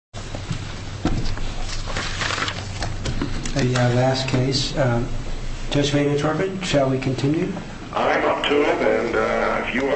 State Farm v. Rosenthal State Farm v. Automobile Insurance Company Where does the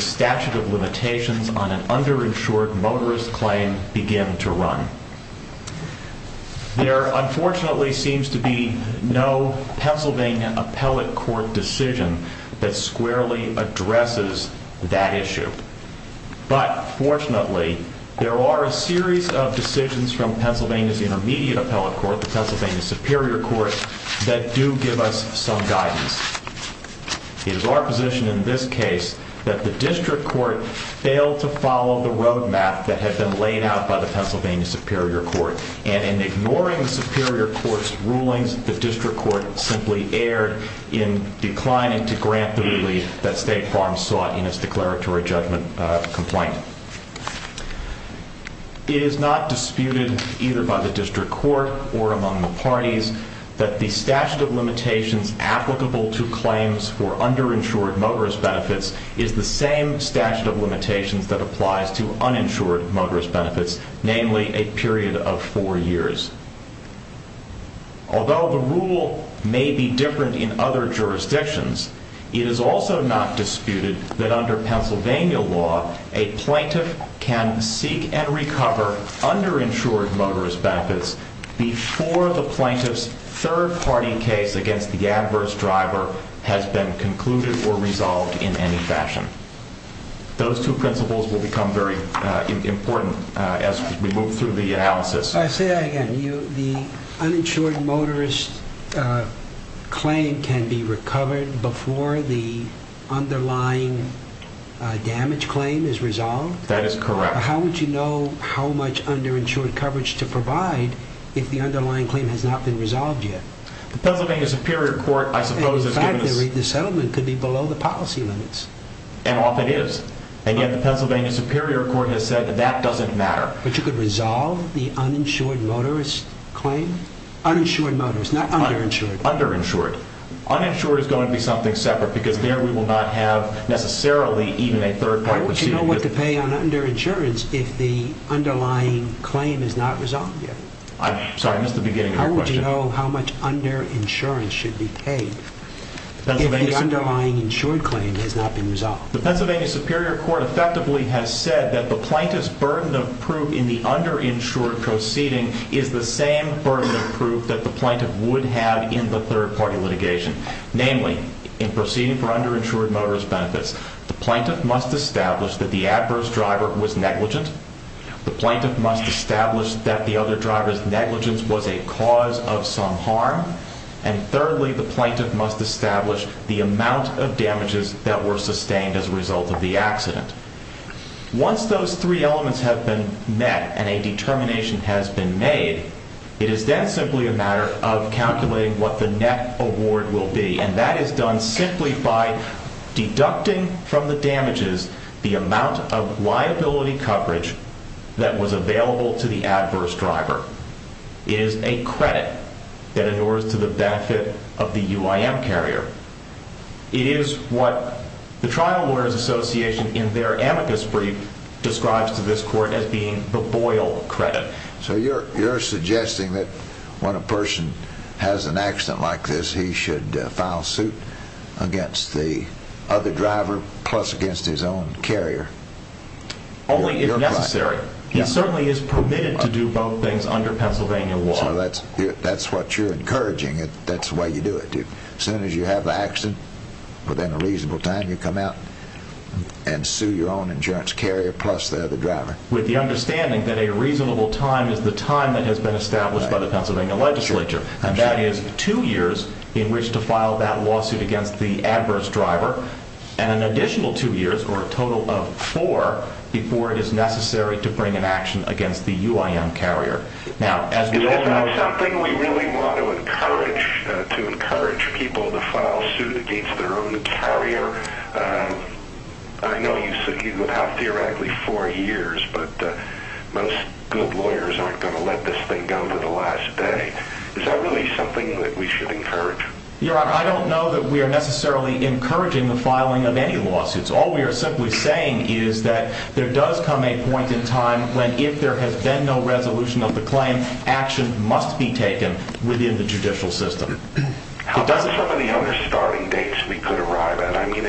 statute of limitations on an underinsured motorist claim begin to run? There, unfortunately, seems to be no Pennsylvania appellate court decision that squarely addresses that issue. But, fortunately, there are a series of decisions from Pennsylvania's intermediate appellate court, the Pennsylvania Superior Court, that do give us some guidance. It is our position in this case that the district court failed to follow the roadmap that had been laid out by the Pennsylvania Superior Court. And in ignoring the Superior Court's rulings, the district court simply erred in declining to grant the relief that State Farm sought in its declaratory judgment complaint. It is not disputed, either by the district court or among the parties, that the statute of limitations applicable to claims for underinsured motorist benefits is the same statute of limitations that applies to uninsured motorist benefits, namely a period of four years. Although the rule may be different in other jurisdictions, it is also not disputed that under Pennsylvania law, a plaintiff can seek and recover underinsured motorist benefits before the plaintiff's third-party case against the adverse driver has been concluded or resolved in any fashion. Those two principles will become very important as we move through the analysis. I say that again. The uninsured motorist claim can be recovered before the underlying damage claim is resolved? That is correct. How would you know how much underinsured coverage to provide if the underlying claim has not been resolved yet? The Pennsylvania Superior Court, I suppose, has given us... In fact, the settlement could be below the policy limits. And often is. And yet, the Pennsylvania Superior Court has said that that doesn't matter. But you could resolve the uninsured motorist claim? Uninsured motorist, not underinsured. Underinsured. Uninsured is going to be something separate because there we will not have necessarily even a third-party proceeding. How would you know what to pay on underinsurance if the underlying claim is not resolved yet? I'm sorry, I missed the beginning of your question. How would you know how much underinsurance should be paid if the underlying insured claim has not been resolved? The Pennsylvania Superior Court effectively has said that the plaintiff's burden of proof in the underinsured proceeding is the same burden of proof that the plaintiff would have in the third-party litigation. Namely, in proceeding for underinsured motorist benefits, the plaintiff must establish that the adverse driver was negligent. The plaintiff must establish that the other driver's negligence was a cause of some harm. And thirdly, the plaintiff must establish the amount of damages that were sustained as a result of the accident. Once those three elements have been met and a determination has been made, it is then simply a matter of calculating what the net award will be. And that is done simply by deducting from the damages the amount of liability coverage that was available to the adverse driver. It is a credit that endures to the benefit of the UIM carrier. It is what the Trial Lawyers Association, in their amicus brief, describes to this court as being the Boyle credit. So you're suggesting that when a person has an accident like this, he should file suit against the other driver plus against his own carrier? Only if necessary. He certainly is permitted to do both things under Pennsylvania law. So that's what you're encouraging. That's the way you do it. As soon as you have the accident, within a reasonable time, you come out and sue your own insurance carrier plus the other driver. With the understanding that a reasonable time is the time that has been established by the Pennsylvania legislature. And that is two years in which to file that lawsuit against the adverse driver and an additional two years or a total of four before it is necessary to bring an action against the UIM carrier. Now, is that something we really want to encourage? To encourage people to file suit against their own carrier? I know you said you would have theoretically four years, but most good lawyers aren't going to let this thing go to the last day. Is that really something that we should encourage? Your Honor, I don't know that we are necessarily encouraging the filing of any lawsuits. All we are simply saying is that there does come a point in time when if there has been no resolution of the claim, action must be taken within the judicial system. How about some of the other starting dates we could arrive at? I mean,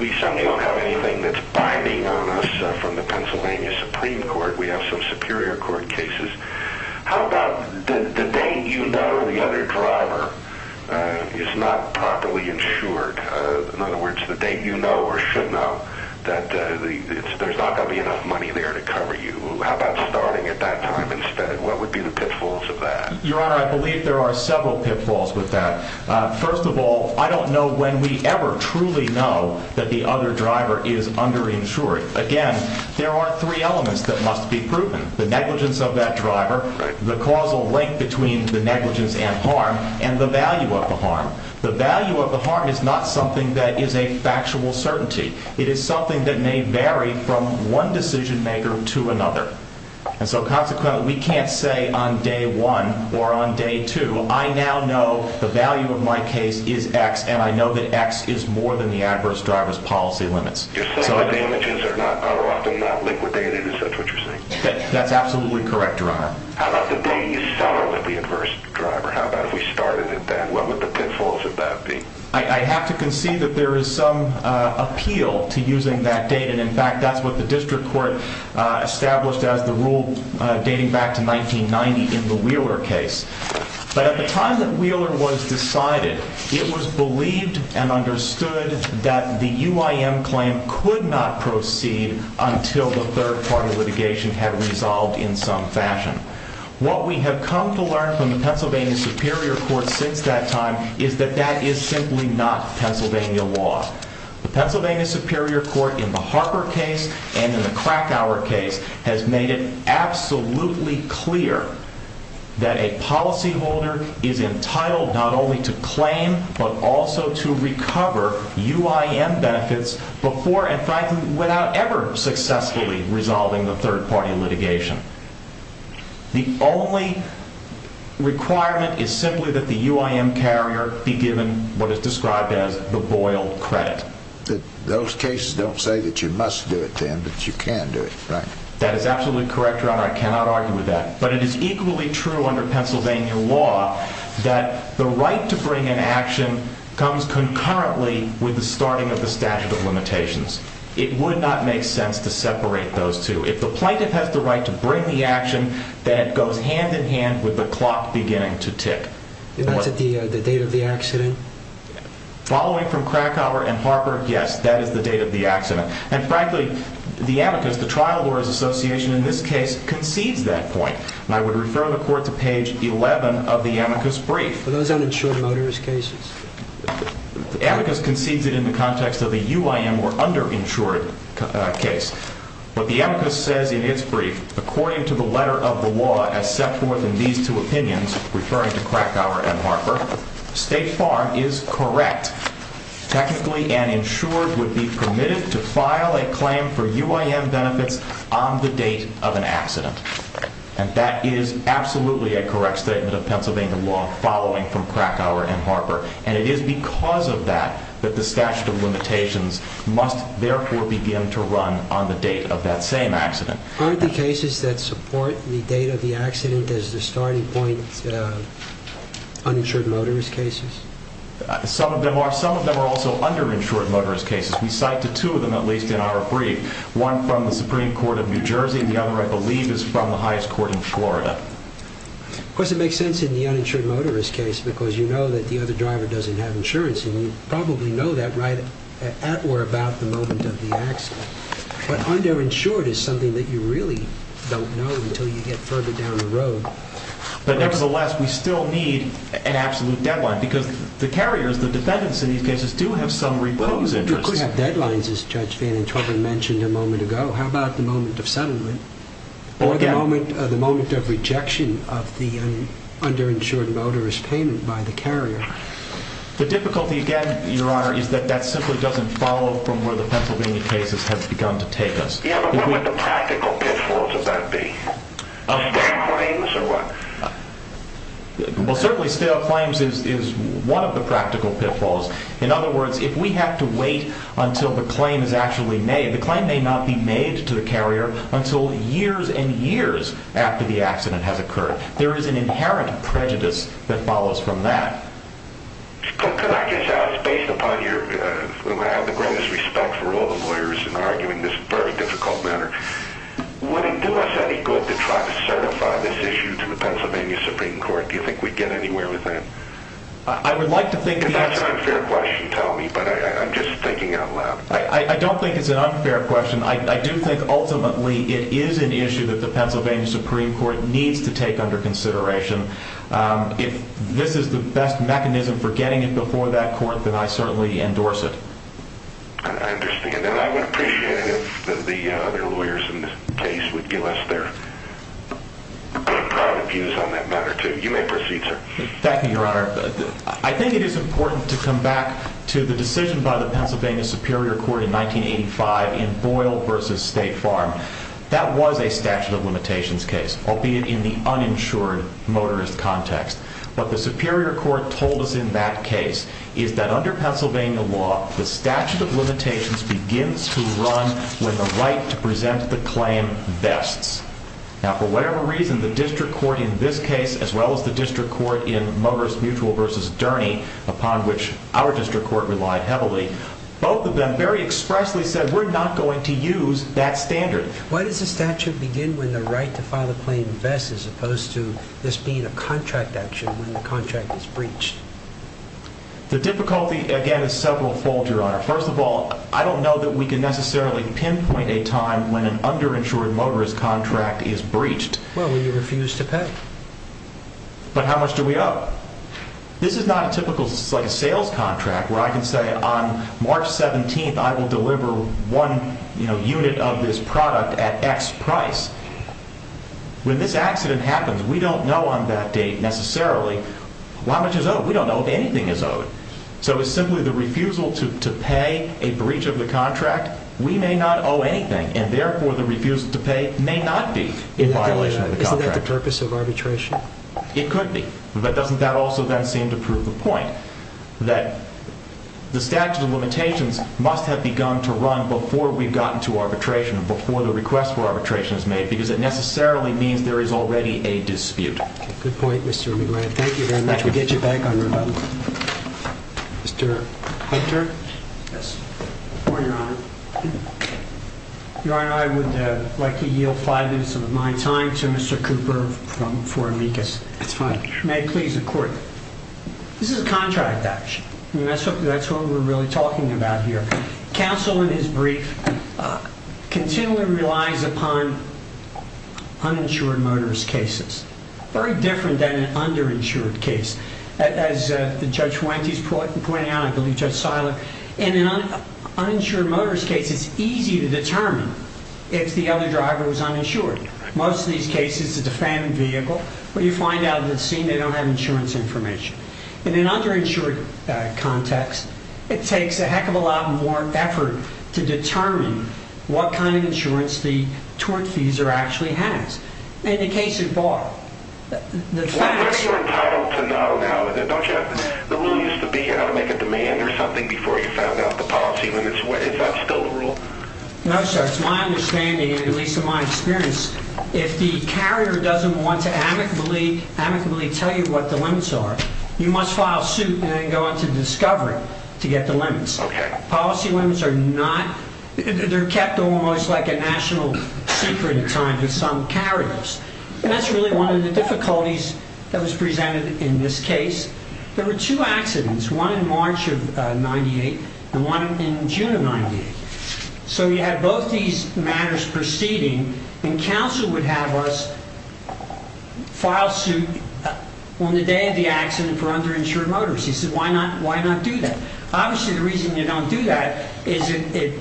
we certainly don't have anything that's binding on us from the Pennsylvania Supreme Court. We have some Superior Court cases. How about the date you know the other driver is not properly insured? In other words, the date you know or should know that there's not going to be enough money there to cover you. How about starting at that time instead? What would be the pitfalls of that? Your Honor, I believe there are several pitfalls with that. First of all, I don't know when we ever truly know that the other driver is underinsured. Again, there are three elements that must be proven. The negligence of that driver, the causal link between the negligence and harm, and the value of the harm. The value of the harm is not something that is a factual certainty. It is something that may vary from one decision-maker to another. And so consequently, we can't say on day one or on day two, I now know the value of my case is X and I know that X is more than the adverse driver's policy limits. Your summary damages are often not liquidated, is that what you're saying? That's absolutely correct, Your Honor. How about the date you saw the adverse driver? How about if we started at that? What would the pitfalls of that be? I have to concede that there is some appeal to using that date. And in fact, that's what the district court established as the rule dating back to 1990 in the Wheeler case. But at the time that Wheeler was decided, it was believed and understood that the UIM claim could not proceed until the third-party litigation had resolved in some fashion. What we have come to learn from the Pennsylvania Superior Court since that time is that that is simply not Pennsylvania law. The Pennsylvania Superior Court in the Harper case and in the Krakauer case has made it absolutely clear that a policyholder is entitled not only to claim but also to recover UIM benefits before and, frankly, without ever successfully resolving the third-party litigation. The only requirement is simply that the UIM carrier be given what is described as the Boyle credit. Those cases don't say that you must do it then, but you can do it, right? That is absolutely correct, Your Honor. I cannot argue with that. But it is equally true under Pennsylvania law that the right to bring an action comes concurrently with the starting of the statute of limitations. It would not make sense to separate those two. If the plaintiff has the right to bring the action, then it goes hand in hand with the clock beginning to tick. And that's at the date of the accident? Following from Krakauer and Harper, yes, that is the date of the accident. And, frankly, the amicus, the trial lawyers' association in this case, concedes that point. And I would refer the Court to page 11 of the amicus brief. Are those uninsured motorist cases? The amicus concedes it in the context of the UIM or underinsured case. But the amicus says in its brief, according to the letter of the law as set forth in these two opinions, referring to Krakauer and Harper, State Farm is correct. Technically, an insured would be permitted to file a claim for UIM benefits on the date of an accident. And that is absolutely a correct statement of Pennsylvania law following from Krakauer and Harper. And it is because of that that the statute of limitations must, therefore, begin to run on the date of that same accident. Aren't the cases that support the date of the accident as the starting point uninsured motorist cases? Some of them are. Some of them are also underinsured motorist cases. We cite two of them, at least, in our brief, one from the Supreme Court of New Jersey and the other, I believe, is from the highest court in Florida. Of course, it makes sense in the uninsured motorist case because you know that the other driver doesn't have insurance, and you probably know that right at or about the moment of the accident. But underinsured is something that you really don't know until you get further down the road. But nevertheless, we still need an absolute deadline because the carriers, the defendants in these cases, do have some repose interest. Well, you could have deadlines, as Judge Van Interven mentioned a moment ago. How about the moment of settlement? Or the moment of rejection of the underinsured motorist payment by the carrier? The difficulty, again, Your Honor, is that that simply doesn't follow from where the Pennsylvania cases have begun to take us. Yeah, but what would the practical pitfalls of that be? Stale claims or what? Well, certainly stale claims is one of the practical pitfalls. In other words, if we have to wait until the claim is actually made, the claim may not be made to the carrier until years and years after the accident has occurred. There is an inherent prejudice that follows from that. Could I just ask, based upon your... I have the greatest respect for all the lawyers in arguing this very difficult matter. Would it do us any good to try to certify this issue to the Pennsylvania Supreme Court? Do you think we'd get anywhere with that? I would like to think the answer... That's an unfair question, tell me, but I'm just thinking out loud. I don't think it's an unfair question. I do think, ultimately, it is an issue that the Pennsylvania Supreme Court needs to take under consideration. If this is the best mechanism for getting it before that court, then I certainly endorse it. I understand, and I would appreciate it if the other lawyers in this case would give us their proud views on that matter, too. You may proceed, sir. Thank you, Your Honor. I think it is important to come back to the decision by the Pennsylvania Superior Court in 1985 in Boyle v. State Farm. That was a statute of limitations case, albeit in the uninsured motorist context. What the Superior Court told us in that case is that under Pennsylvania law, the statute of limitations begins to run when the right to present the claim vests. Now, for whatever reason, the district court in this case, as well as the district court in Motorist Mutual v. Durney, upon which our district court relied heavily, both of them very expressly said, we're not going to use that standard. Why does the statute begin when the right to file a claim vests, as opposed to this being a contract action when the contract is breached? The difficulty, again, is several-fold, Your Honor. First of all, I don't know that we can necessarily pinpoint a time when an underinsured motorist contract is breached. Well, we refuse to pay. But how much do we owe? This is not a typical sales contract where I can say, on March 17th, I will deliver one unit of this product at X price. When this accident happens, we don't know on that date necessarily how much is owed. We don't know if anything is owed. So it's simply the refusal to pay a breach of the contract. We may not owe anything, and therefore the refusal to pay may not be in violation of the contract. Isn't that the purpose of arbitration? It could be. But doesn't that also then seem to prove the point that the statute of limitations must have begun to run before we've gotten to arbitration, before the request for arbitration is made, because it necessarily means there is already a dispute. Thank you very much. We'll get you back on rebuttal. Mr. Hunter? Yes. Good morning, Your Honor. Your Honor, I would like to yield five minutes of my time to Mr. Cooper for amicus. That's fine. May it please the Court. This is a contract action. That's what we're really talking about here. Counsel in his brief continually relies upon uninsured motorist cases. Very different than an underinsured case. As Judge Fuentes pointed out, and I believe Judge Seiler, in an uninsured motorist case it's easy to determine if the other driver was uninsured. Most of these cases it's a phantom vehicle where you find out at the scene they don't have insurance information. In an underinsured context, it takes a heck of a lot more effort to determine what kind of insurance the tortfeasor actually has. In the case of Barr, the facts... But you're entitled to know now, don't you? The rule used to be you had to make a demand or something before you found out the policy limits. Is that still the rule? No, sir. It's my understanding, at least in my experience, if the carrier doesn't want to amicably tell you what the limits are, you must file suit and then go into discovery to get the limits. Okay. Policy limits are not... They're kept almost like a national secret at times with some carriers. And that's really one of the difficulties that was presented in this case. There were two accidents, one in March of 1998 and one in June of 1998. So you had both these matters proceeding, and counsel would have us file suit on the day of the accident for underinsured motorists. He said, why not do that? Obviously, the reason you don't do that is it...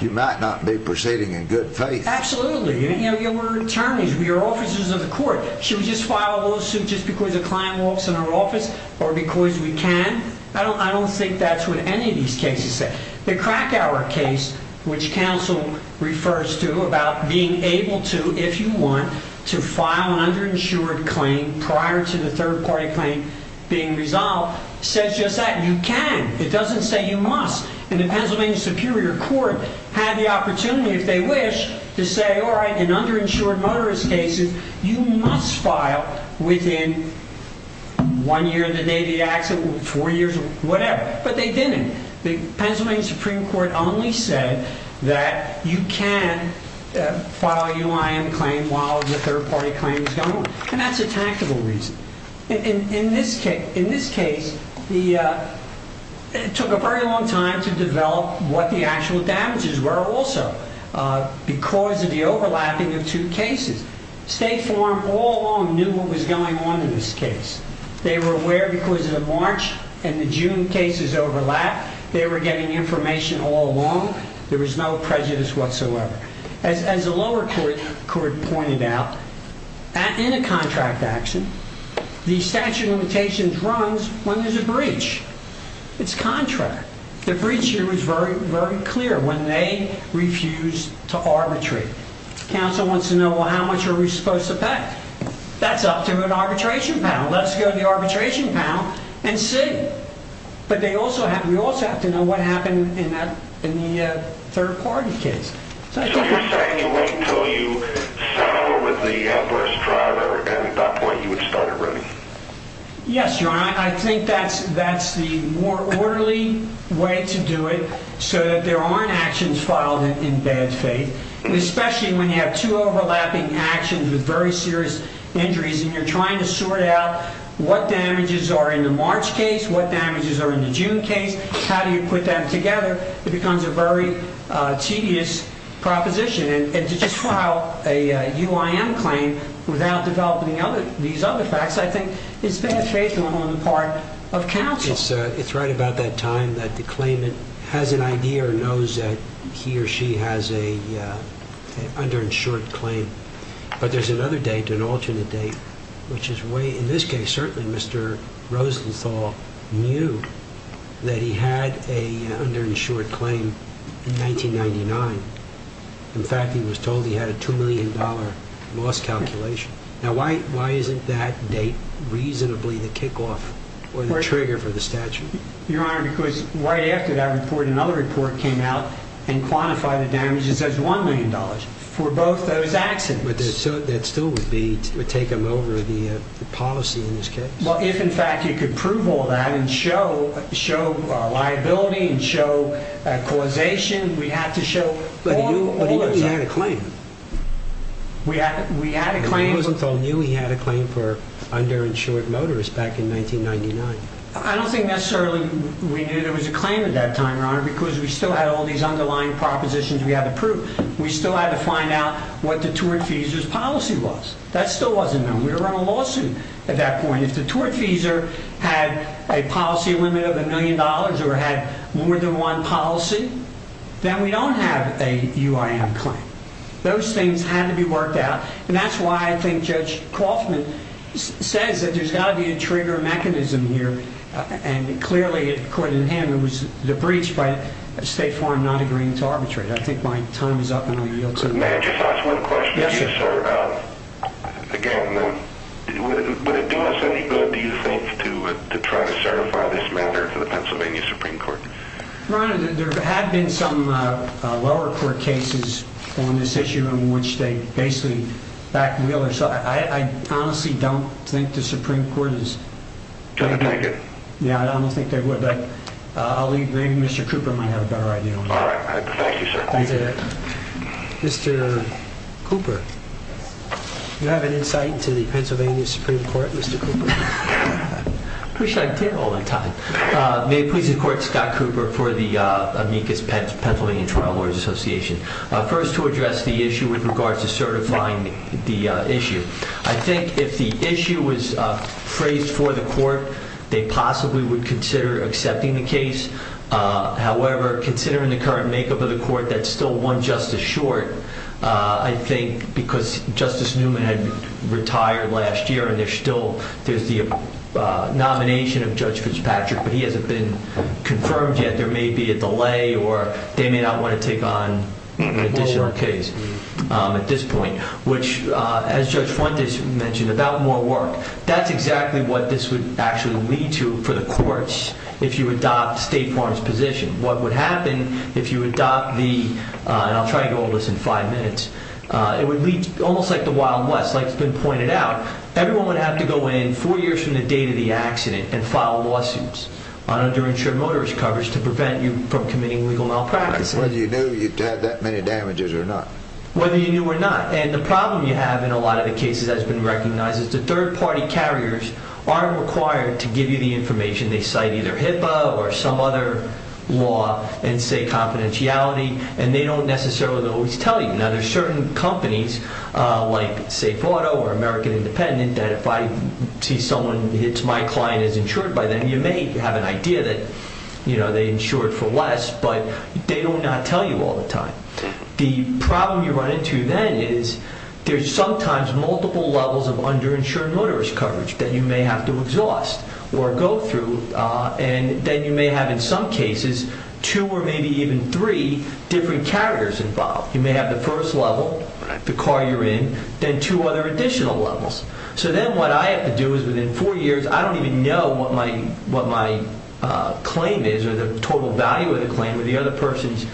You might not be proceeding in good faith. Absolutely. You know, we're attorneys. We are officers of the court. Should we just file a little suit just because a client walks in our office or because we can? I don't think that's what any of these cases say. The Krakauer case, which counsel refers to about being able to, if you want, to file an underinsured claim prior to the third-party claim being resolved, says just that. You can. It doesn't say you must. And the Pennsylvania Superior Court had the opportunity, if they wish, to say, all right, in underinsured motorist cases, you must file within one year of the day of the accident, four years, whatever. But they didn't. The Pennsylvania Supreme Court only said that you can file a UIM claim while the third-party claim is going. And that's a tactable reason. In this case, it took a very long time to develop what the actual damages were also because of the overlapping of two cases. State Farm all along knew what was going on in this case. They were aware because of the March and the June cases overlap. They were getting information all along. There was no prejudice whatsoever. As the lower court pointed out, in a contract action, the statute of limitations runs when there's a breach. It's contract. The breach here was very clear when they refused to arbitrate. The counsel wants to know, well, how much are we supposed to pay? That's up to an arbitration panel. Let's go to the arbitration panel and see. But we also have to know what happened in the third-party case. So you're saying you wait until you settle with the adverse driver, and at that point you would start a remedy? Yes, Your Honor. I think that's the more orderly way to do it so that there aren't actions filed in bad faith, especially when you have two overlapping actions with very serious injuries, and you're trying to sort out what damages are in the March case, what damages are in the June case, how do you put them together. It becomes a very tedious proposition. And to just file a UIM claim without developing these other facts, I think, is bad faith on the part of counsel. It's right about that time that the claimant has an idea or knows that he or she has an underinsured claim. But there's another date, an alternate date, which is way, in this case, certainly Mr. Rosenthal knew that he had an underinsured claim in 1999. In fact, he was told he had a $2 million loss calculation. Now, why isn't that date reasonably the kickoff or the trigger for the statute? Your Honor, because right after that report, another report came out and quantified the damages as $1 million for both those accidents. But that still would take him over the policy in this case? Well, if, in fact, you could prove all that and show liability and show causation, we'd have to show all of those. But he knew he had a claim. We had a claim. Rosenthal knew he had a claim for underinsured motorists back in 1999. I don't think necessarily we knew there was a claim at that time, Your Honor, because we still had all these underlying propositions we had to prove. We still had to find out what the tortfeasor's policy was. That still wasn't known. We were on a lawsuit at that point. If the tortfeasor had a policy limit of $1 million or had more than one policy, then we don't have a UIM claim. Those things had to be worked out, and that's why I think Judge Kaufman says that there's got to be a trigger mechanism here. And clearly, according to him, it was the breach by State Farm not agreeing to arbitrate. I think my time is up, and I yield to you. May I just ask one question? Yes, sir. Again, would it do us any good, do you think, to try to certify this matter to the Pennsylvania Supreme Court? Your Honor, there have been some lower court cases on this issue in which they basically back wheelers. I honestly don't think the Supreme Court is going to take it. Yeah, I don't think they would. Maybe Mr. Cooper might have a better idea on that. All right. Thank you, sir. Thank you. Mr. Cooper, do you have an insight into the Pennsylvania Supreme Court, Mr. Cooper? I wish I did all the time. May it please the Court, Scott Cooper for the Amicus Pennsylvania Trial Lawyers Association. First, to address the issue with regards to certifying the issue, I think if the issue was phrased for the court, they possibly would consider accepting the case. However, considering the current makeup of the court, that's still one justice short, I think because Justice Newman had retired last year, and there's still the nomination of Judge Fitzpatrick, but he hasn't been confirmed yet. There may be a delay, or they may not want to take on an additional case at this point, which, as Judge Fuentes mentioned, about more work. That's exactly what this would actually lead to for the courts if you adopt State Farm's position. What would happen if you adopt the, and I'll try to go over this in five minutes, it would lead to almost like the Wild West, like it's been pointed out. Everyone would have to go in four years from the date of the accident and file lawsuits on underinsured motorist coverage to prevent you from committing legal malpractice. Whether you knew you had that many damages or not. Whether you knew or not. And the problem you have in a lot of the cases that's been recognized is the third-party carriers aren't required to give you the information. They cite either HIPAA or some other law and say confidentiality, and they don't necessarily always tell you. Now, there's certain companies like Safe Auto or American Independent that if I see someone hits my client as insured by them, you may have an idea that they insured for less, but they will not tell you all the time. The problem you run into then is there's sometimes multiple levels of underinsured motorist coverage that you may have to exhaust or go through, and then you may have in some cases two or maybe even three different carriers involved. You may have the first level, the car you're in, then two other additional levels. So then what I have to do is within four years, I don't even know what my claim is or the total value of the claim or the other person's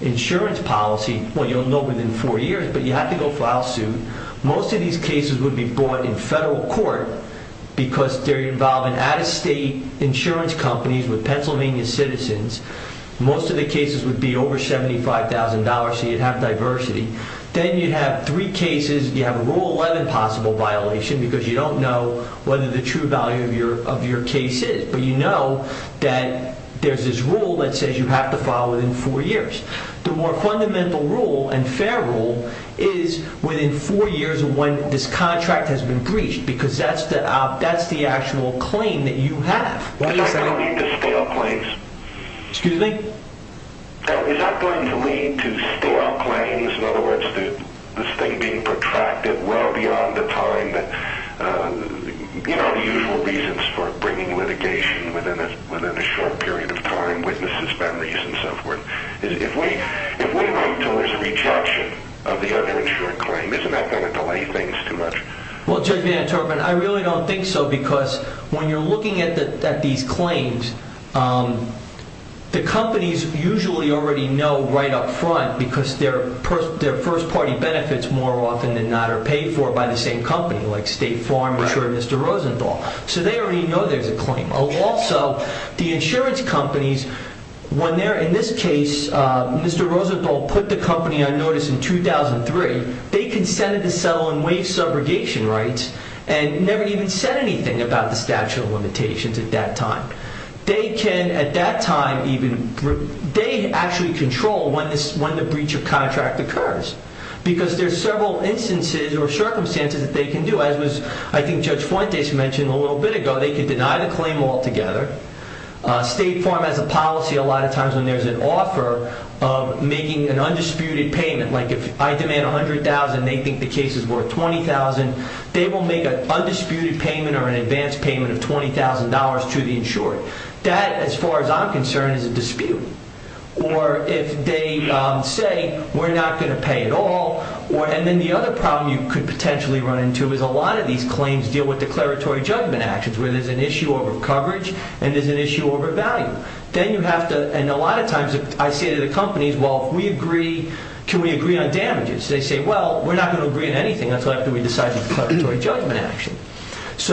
insurance policy. Well, you'll know within four years, but you have to go file suit. Most of these cases would be brought in federal court because they're involving out-of-state insurance companies with Pennsylvania citizens. Most of the cases would be over $75,000, so you'd have diversity. Then you'd have three cases. You'd have a Rule 11 possible violation because you don't know whether the true value of your case is, but you know that there's this rule that says you have to file within four years. The more fundamental rule and fair rule is within four years of when this contract has been breached because that's the actual claim that you have. Is that going to lead to stale claims? Excuse me? Is that going to lead to stale claims? In other words, this thing being protracted well beyond the time, you know, the usual reasons for bringing litigation within a short period of time, witnesses, memories, and so forth. If we wait until there's a rejection of the underinsured claim, isn't that going to delay things too much? Well, Judge Van Turpen, I really don't think so because when you're looking at these claims, the companies usually already know right up front because their first-party benefits more often than not are paid for by the same company, like State Farm insured Mr. Rosenthal. So they already know there's a claim. Also, the insurance companies, when they're in this case, Mr. Rosenthal put the company on notice in 2003. They consented to settle on waived subrogation rights and never even said anything about the statute of limitations at that time. They can, at that time even, they actually control when the breach of contract occurs because there's several instances or circumstances that they can do. As I think Judge Fuentes mentioned a little bit ago, they can deny the claim altogether. State Farm has a policy a lot of times when there's an offer of making an undisputed payment. Like if I demand $100,000 and they think the case is worth $20,000, they will make an undisputed payment or an advance payment of $20,000 to the insurer. That, as far as I'm concerned, is a dispute. Or if they say, we're not going to pay at all, and then the other problem you could potentially run into is a lot of these claims deal with declaratory judgment actions where there's an issue over coverage and there's an issue over value. Then you have to, and a lot of times I say to the companies, well, if we agree, can we agree on damages? They say, well, we're not going to agree on anything. That's after we decide the declaratory judgment action. It's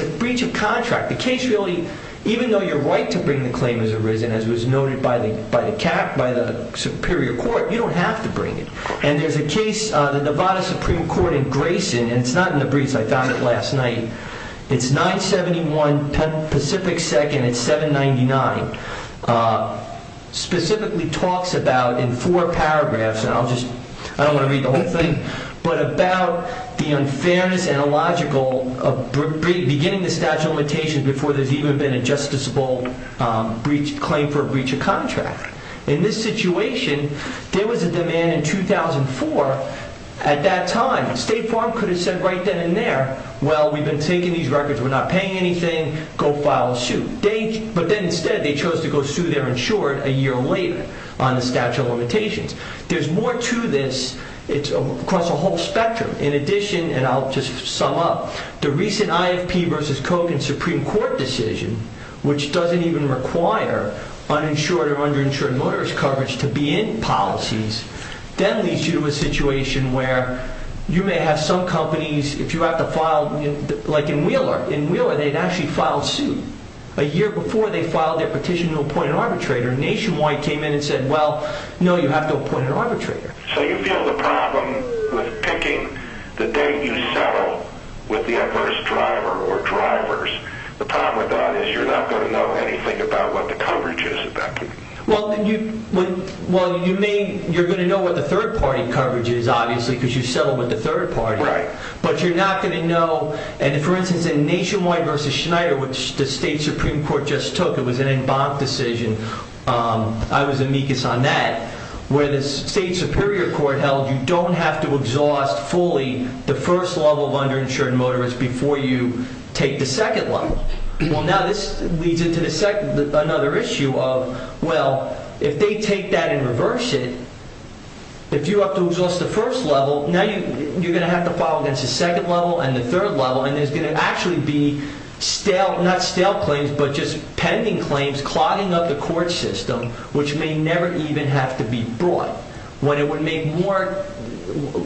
a breach of contract. The case really, even though you're right to bring the claim as arisen, as was noted by the Superior Court, you don't have to bring it. There's a case, the Nevada Supreme Court in Grayson, and it's not in the briefs, I found it last night. It's 971 Pacific 2nd at 799. Specifically talks about, in four paragraphs, and I don't want to read the whole thing, but about the unfairness and illogical of beginning the statute of limitations before there's even been a justiciable claim for a breach of contract. In this situation, there was a demand in 2004 at that time. State Farm could have said right then and there, well, we've been taking these records, we're not paying anything, go file a suit. But then instead they chose to go sue their insured a year later on the statute of limitations. There's more to this across a whole spectrum. In addition, and I'll just sum up, the recent IFP versus Kogan Supreme Court decision, which doesn't even require uninsured or underinsured motorist coverage to be in policies, then leads you to a situation where you may have some companies, if you have to file, like in Wheeler, in Wheeler they'd actually filed suit a year before they filed their petition to appoint an arbitrator. Nationwide came in and said, well, no, you have to appoint an arbitrator. So you feel the problem with picking the date you settle with the adverse driver or drivers. The problem with that is you're not going to know anything about what the coverage is. Well, you're going to know what the third party coverage is, obviously, because you settled with the third party. But you're not going to know, and for instance, in Nationwide versus Schneider, which the State Supreme Court just took, it was an en banc decision, I was amicus on that, where the State Superior Court held you don't have to exhaust fully the first level of underinsured motorist before you take the second level. Well, now this leads into another issue of, well, if they take that and reverse it, if you have to exhaust the first level, now you're going to have to file against the second level and the third level, and there's going to actually be stale, not stale claims, but just pending claims clogging up the court system, which may never even have to be brought, when it would make more,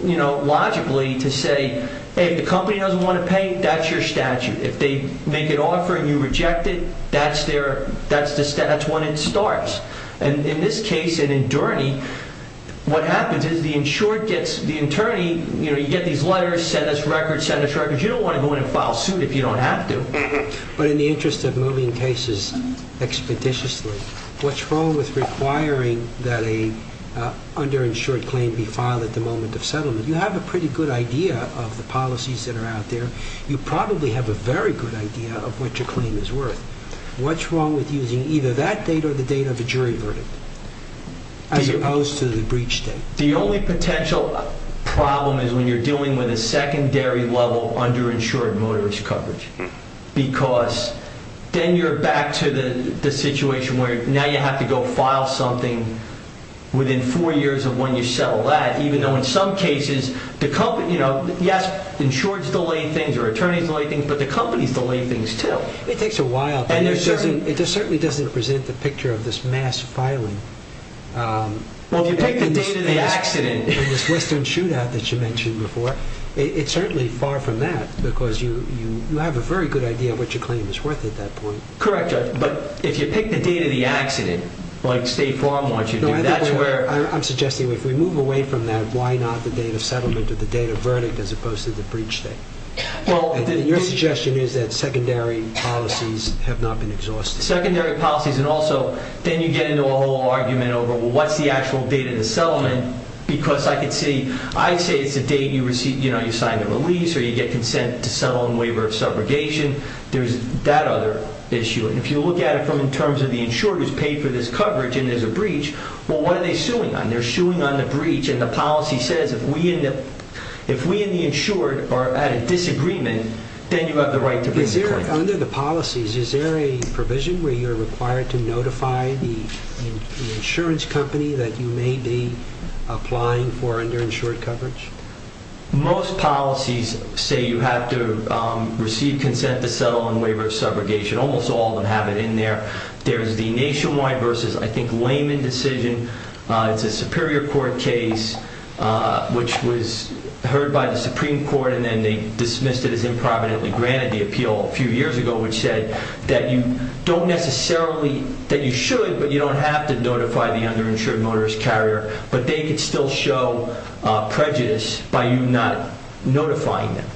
you know, logically to say, hey, if the company doesn't want to pay, that's your statute. If they make an offer and you reject it, that's when it starts. And in this case, in Indurney, what happens is the insured gets, the attorney, you know, you get these letters, send us records, send us records. You don't want to go in and file suit if you don't have to. But in the interest of moving cases expeditiously, what's wrong with requiring that an underinsured claim be filed at the moment of settlement? You have a pretty good idea of the policies that are out there. You probably have a very good idea of what your claim is worth. What's wrong with using either that date or the date of the jury verdict, as opposed to the breach date? The only potential problem is when you're dealing with because then you're back to the situation where now you have to go file something within four years of when you settle that, even though in some cases the company, you know, yes, insureds delay things or attorneys delay things, but the companies delay things too. It takes a while. And it certainly doesn't present the picture of this mass filing. Well, if you take the date of the accident and this Western shootout that you mentioned before, it's certainly far from that because you have a very good idea of what your claim is worth at that point. Correct, but if you pick the date of the accident, like State Farm wants you to do, that's where... I'm suggesting if we move away from that, why not the date of settlement or the date of verdict as opposed to the breach date? Your suggestion is that secondary policies have not been exhausted. Secondary policies and also then you get into a whole argument over what's the actual date of the settlement because I could see, I'd say it's a date you receive, you know, you sign the release or you get consent to settle in waiver of subrogation. There's that other issue. And if you look at it from in terms of the insured who's paid for this coverage and there's a breach, well, what are they suing on? They're suing on the breach and the policy says if we and the insured are at a disagreement, then you have the right to bring the court. Under the policies, is there a provision where you're required to notify the insurance company that you may be applying for underinsured coverage? Most policies say you have to receive consent to settle in waiver of subrogation. Almost all of them have it in there. There's the nationwide versus, I think, layman decision. It's a superior court case which was heard by the Supreme Court and then they dismissed it as improvidently granted the appeal a few years ago which said that you don't necessarily, that you should but you don't have to notify the underinsured motorist carrier but they could still show prejudice by you not notifying them.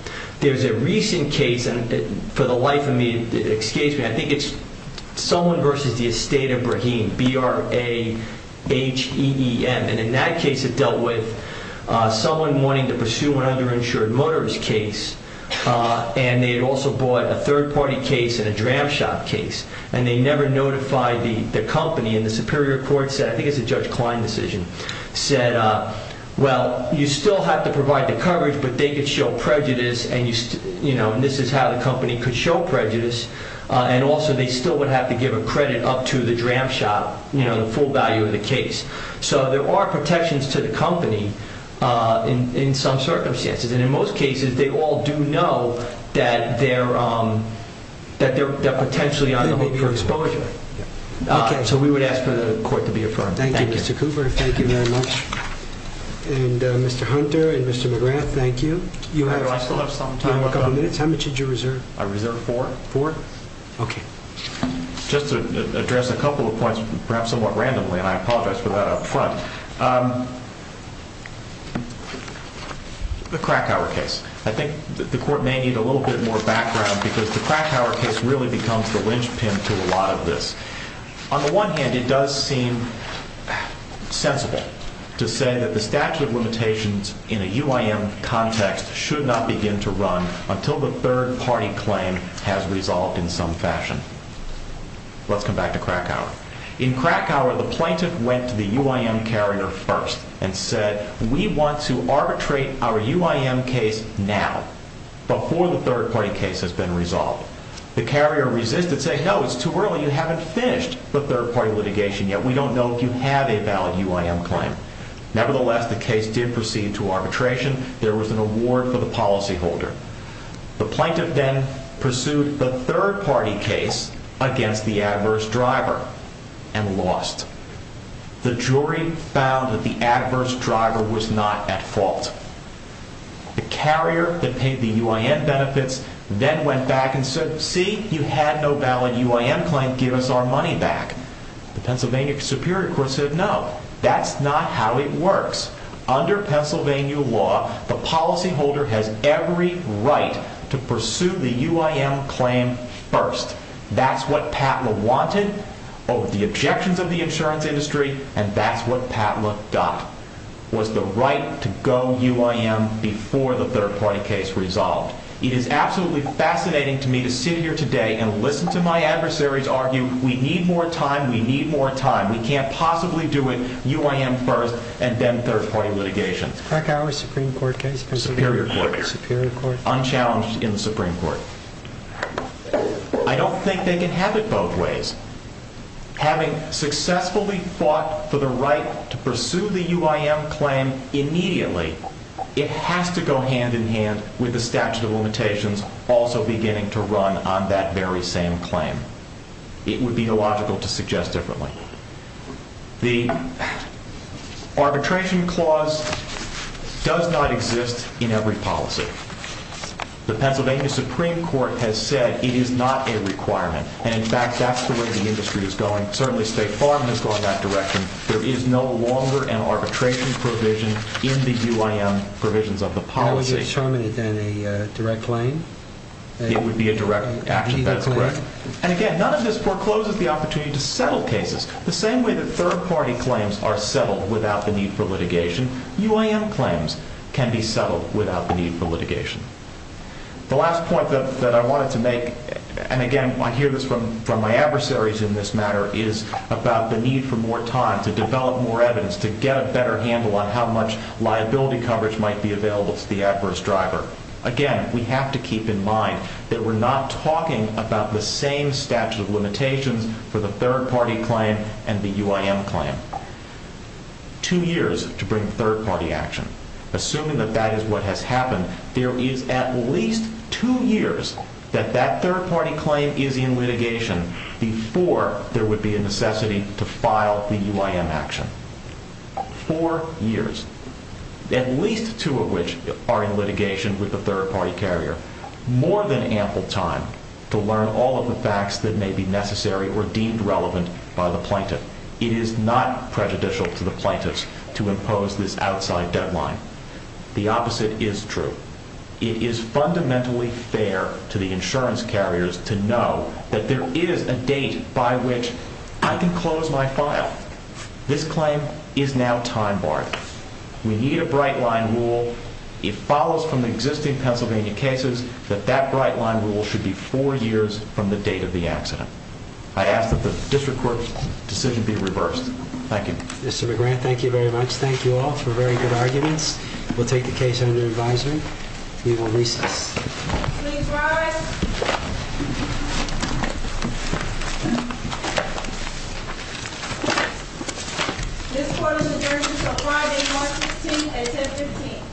There's a recent case and for the life of me, excuse me, I think it's someone versus the Estate of Brahim, B-R-A-H-E-E-M, and in that case it dealt with someone wanting to pursue an underinsured motorist case and they had also bought a third-party case and a dram shop case and they never notified the company and the superior court said, I think it's a Judge Klein decision, said, well, you still have to provide the coverage but they could show prejudice and this is how the company could show prejudice and also they still would have to give a credit up to the dram shop, the full value of the case. So there are protections to the company in some circumstances and in most cases they all do know that they're potentially on the hook for exposure. Okay, so we would ask for the court to be affirmed. Thank you, Mr. Cooper. Thank you very much. And Mr. Hunter and Mr. McGrath, thank you. I still have some time. How much did you reserve? I reserved four. Four? Okay. Just to address a couple of points, perhaps somewhat randomly, and I apologize for that up front. The Krakauer case. I think the court may need a little bit more background because the Krakauer case really becomes the linchpin to a lot of this. On the one hand, it does seem sensible to say that the statute of limitations in a UIM context should not begin to run until the third-party claim has resolved in some fashion. Let's come back to Krakauer. In Krakauer, the plaintiff went to the UIM carrier first and said, we want to arbitrate our UIM case now, before the third-party case has been resolved. The carrier resisted, said, no, it's too early. You haven't finished the third-party litigation yet. We don't know if you have a valid UIM claim. Nevertheless, the case did proceed to arbitration. There was an award for the policyholder. The plaintiff then pursued the third-party case against the adverse driver and lost. The jury found that the adverse driver was not at fault. The carrier that paid the UIM benefits then went back and said, see, you had no valid UIM claim. Give us our money back. The Pennsylvania Superior Court said, no, that's not how it works. Under Pennsylvania law, the policyholder has every right to pursue the UIM claim first. That's what Patla wanted over the objections of the insurance industry, and that's what Patla got, was the right to go UIM before the third-party case resolved. It is absolutely fascinating to me to sit here today and listen to my adversaries argue, we need more time, we need more time, we can't possibly do it UIM first and then third-party litigation. It's a crack-hour Supreme Court case. Superior Court. Superior Court. Unchallenged in the Supreme Court. I don't think they can have it both ways. Having successfully fought for the right to pursue the UIM claim immediately, it has to go hand-in-hand with the statute of limitations also beginning to run on that very same claim. It would be illogical to suggest differently. The arbitration clause does not exist in every policy. The Pennsylvania Supreme Court has said it is not a requirement, and in fact, that's the way the industry is going. Certainly State Farm has gone that direction. There is no longer an arbitration provision in the UIM provisions of the policy. That would determine it then, a direct claim? It would be a direct action, that's correct. And again, none of this forecloses the opportunity to settle cases. The same way that third-party claims are settled without the need for litigation, UIM claims can be settled without the need for litigation. The last point that I wanted to make, and again, I hear this from my adversaries in this matter, is about the need for more time to develop more evidence, to get a better handle on how much liability coverage might be available to the adverse driver. Again, we have to keep in mind that we're not talking about the same statute of limitations for the third-party claim and the UIM claim. Two years to bring third-party action. Assuming that that is what has happened, there is at least two years that that third-party claim is in litigation before there would be a necessity to file the UIM action. Four years. At least two of which are in litigation with the third-party carrier. More than ample time to learn all of the facts that may be necessary or deemed relevant by the plaintiff. It is not prejudicial to the plaintiffs to impose this outside deadline. The opposite is true. It is fundamentally fair to the insurance carriers to know that there is a date by which I can close my file. This claim is now time-barred. We need a bright-line rule. It follows from the existing Pennsylvania cases that that bright-line rule should be four years from the date of the accident. I ask that the district court's decision be reversed. Thank you. Mr. McGrath, thank you very much. Thank you all for very good arguments. We'll take the case under advisory. We will recess. Please rise. This court is adjourned until Friday, March 16, at 10.15.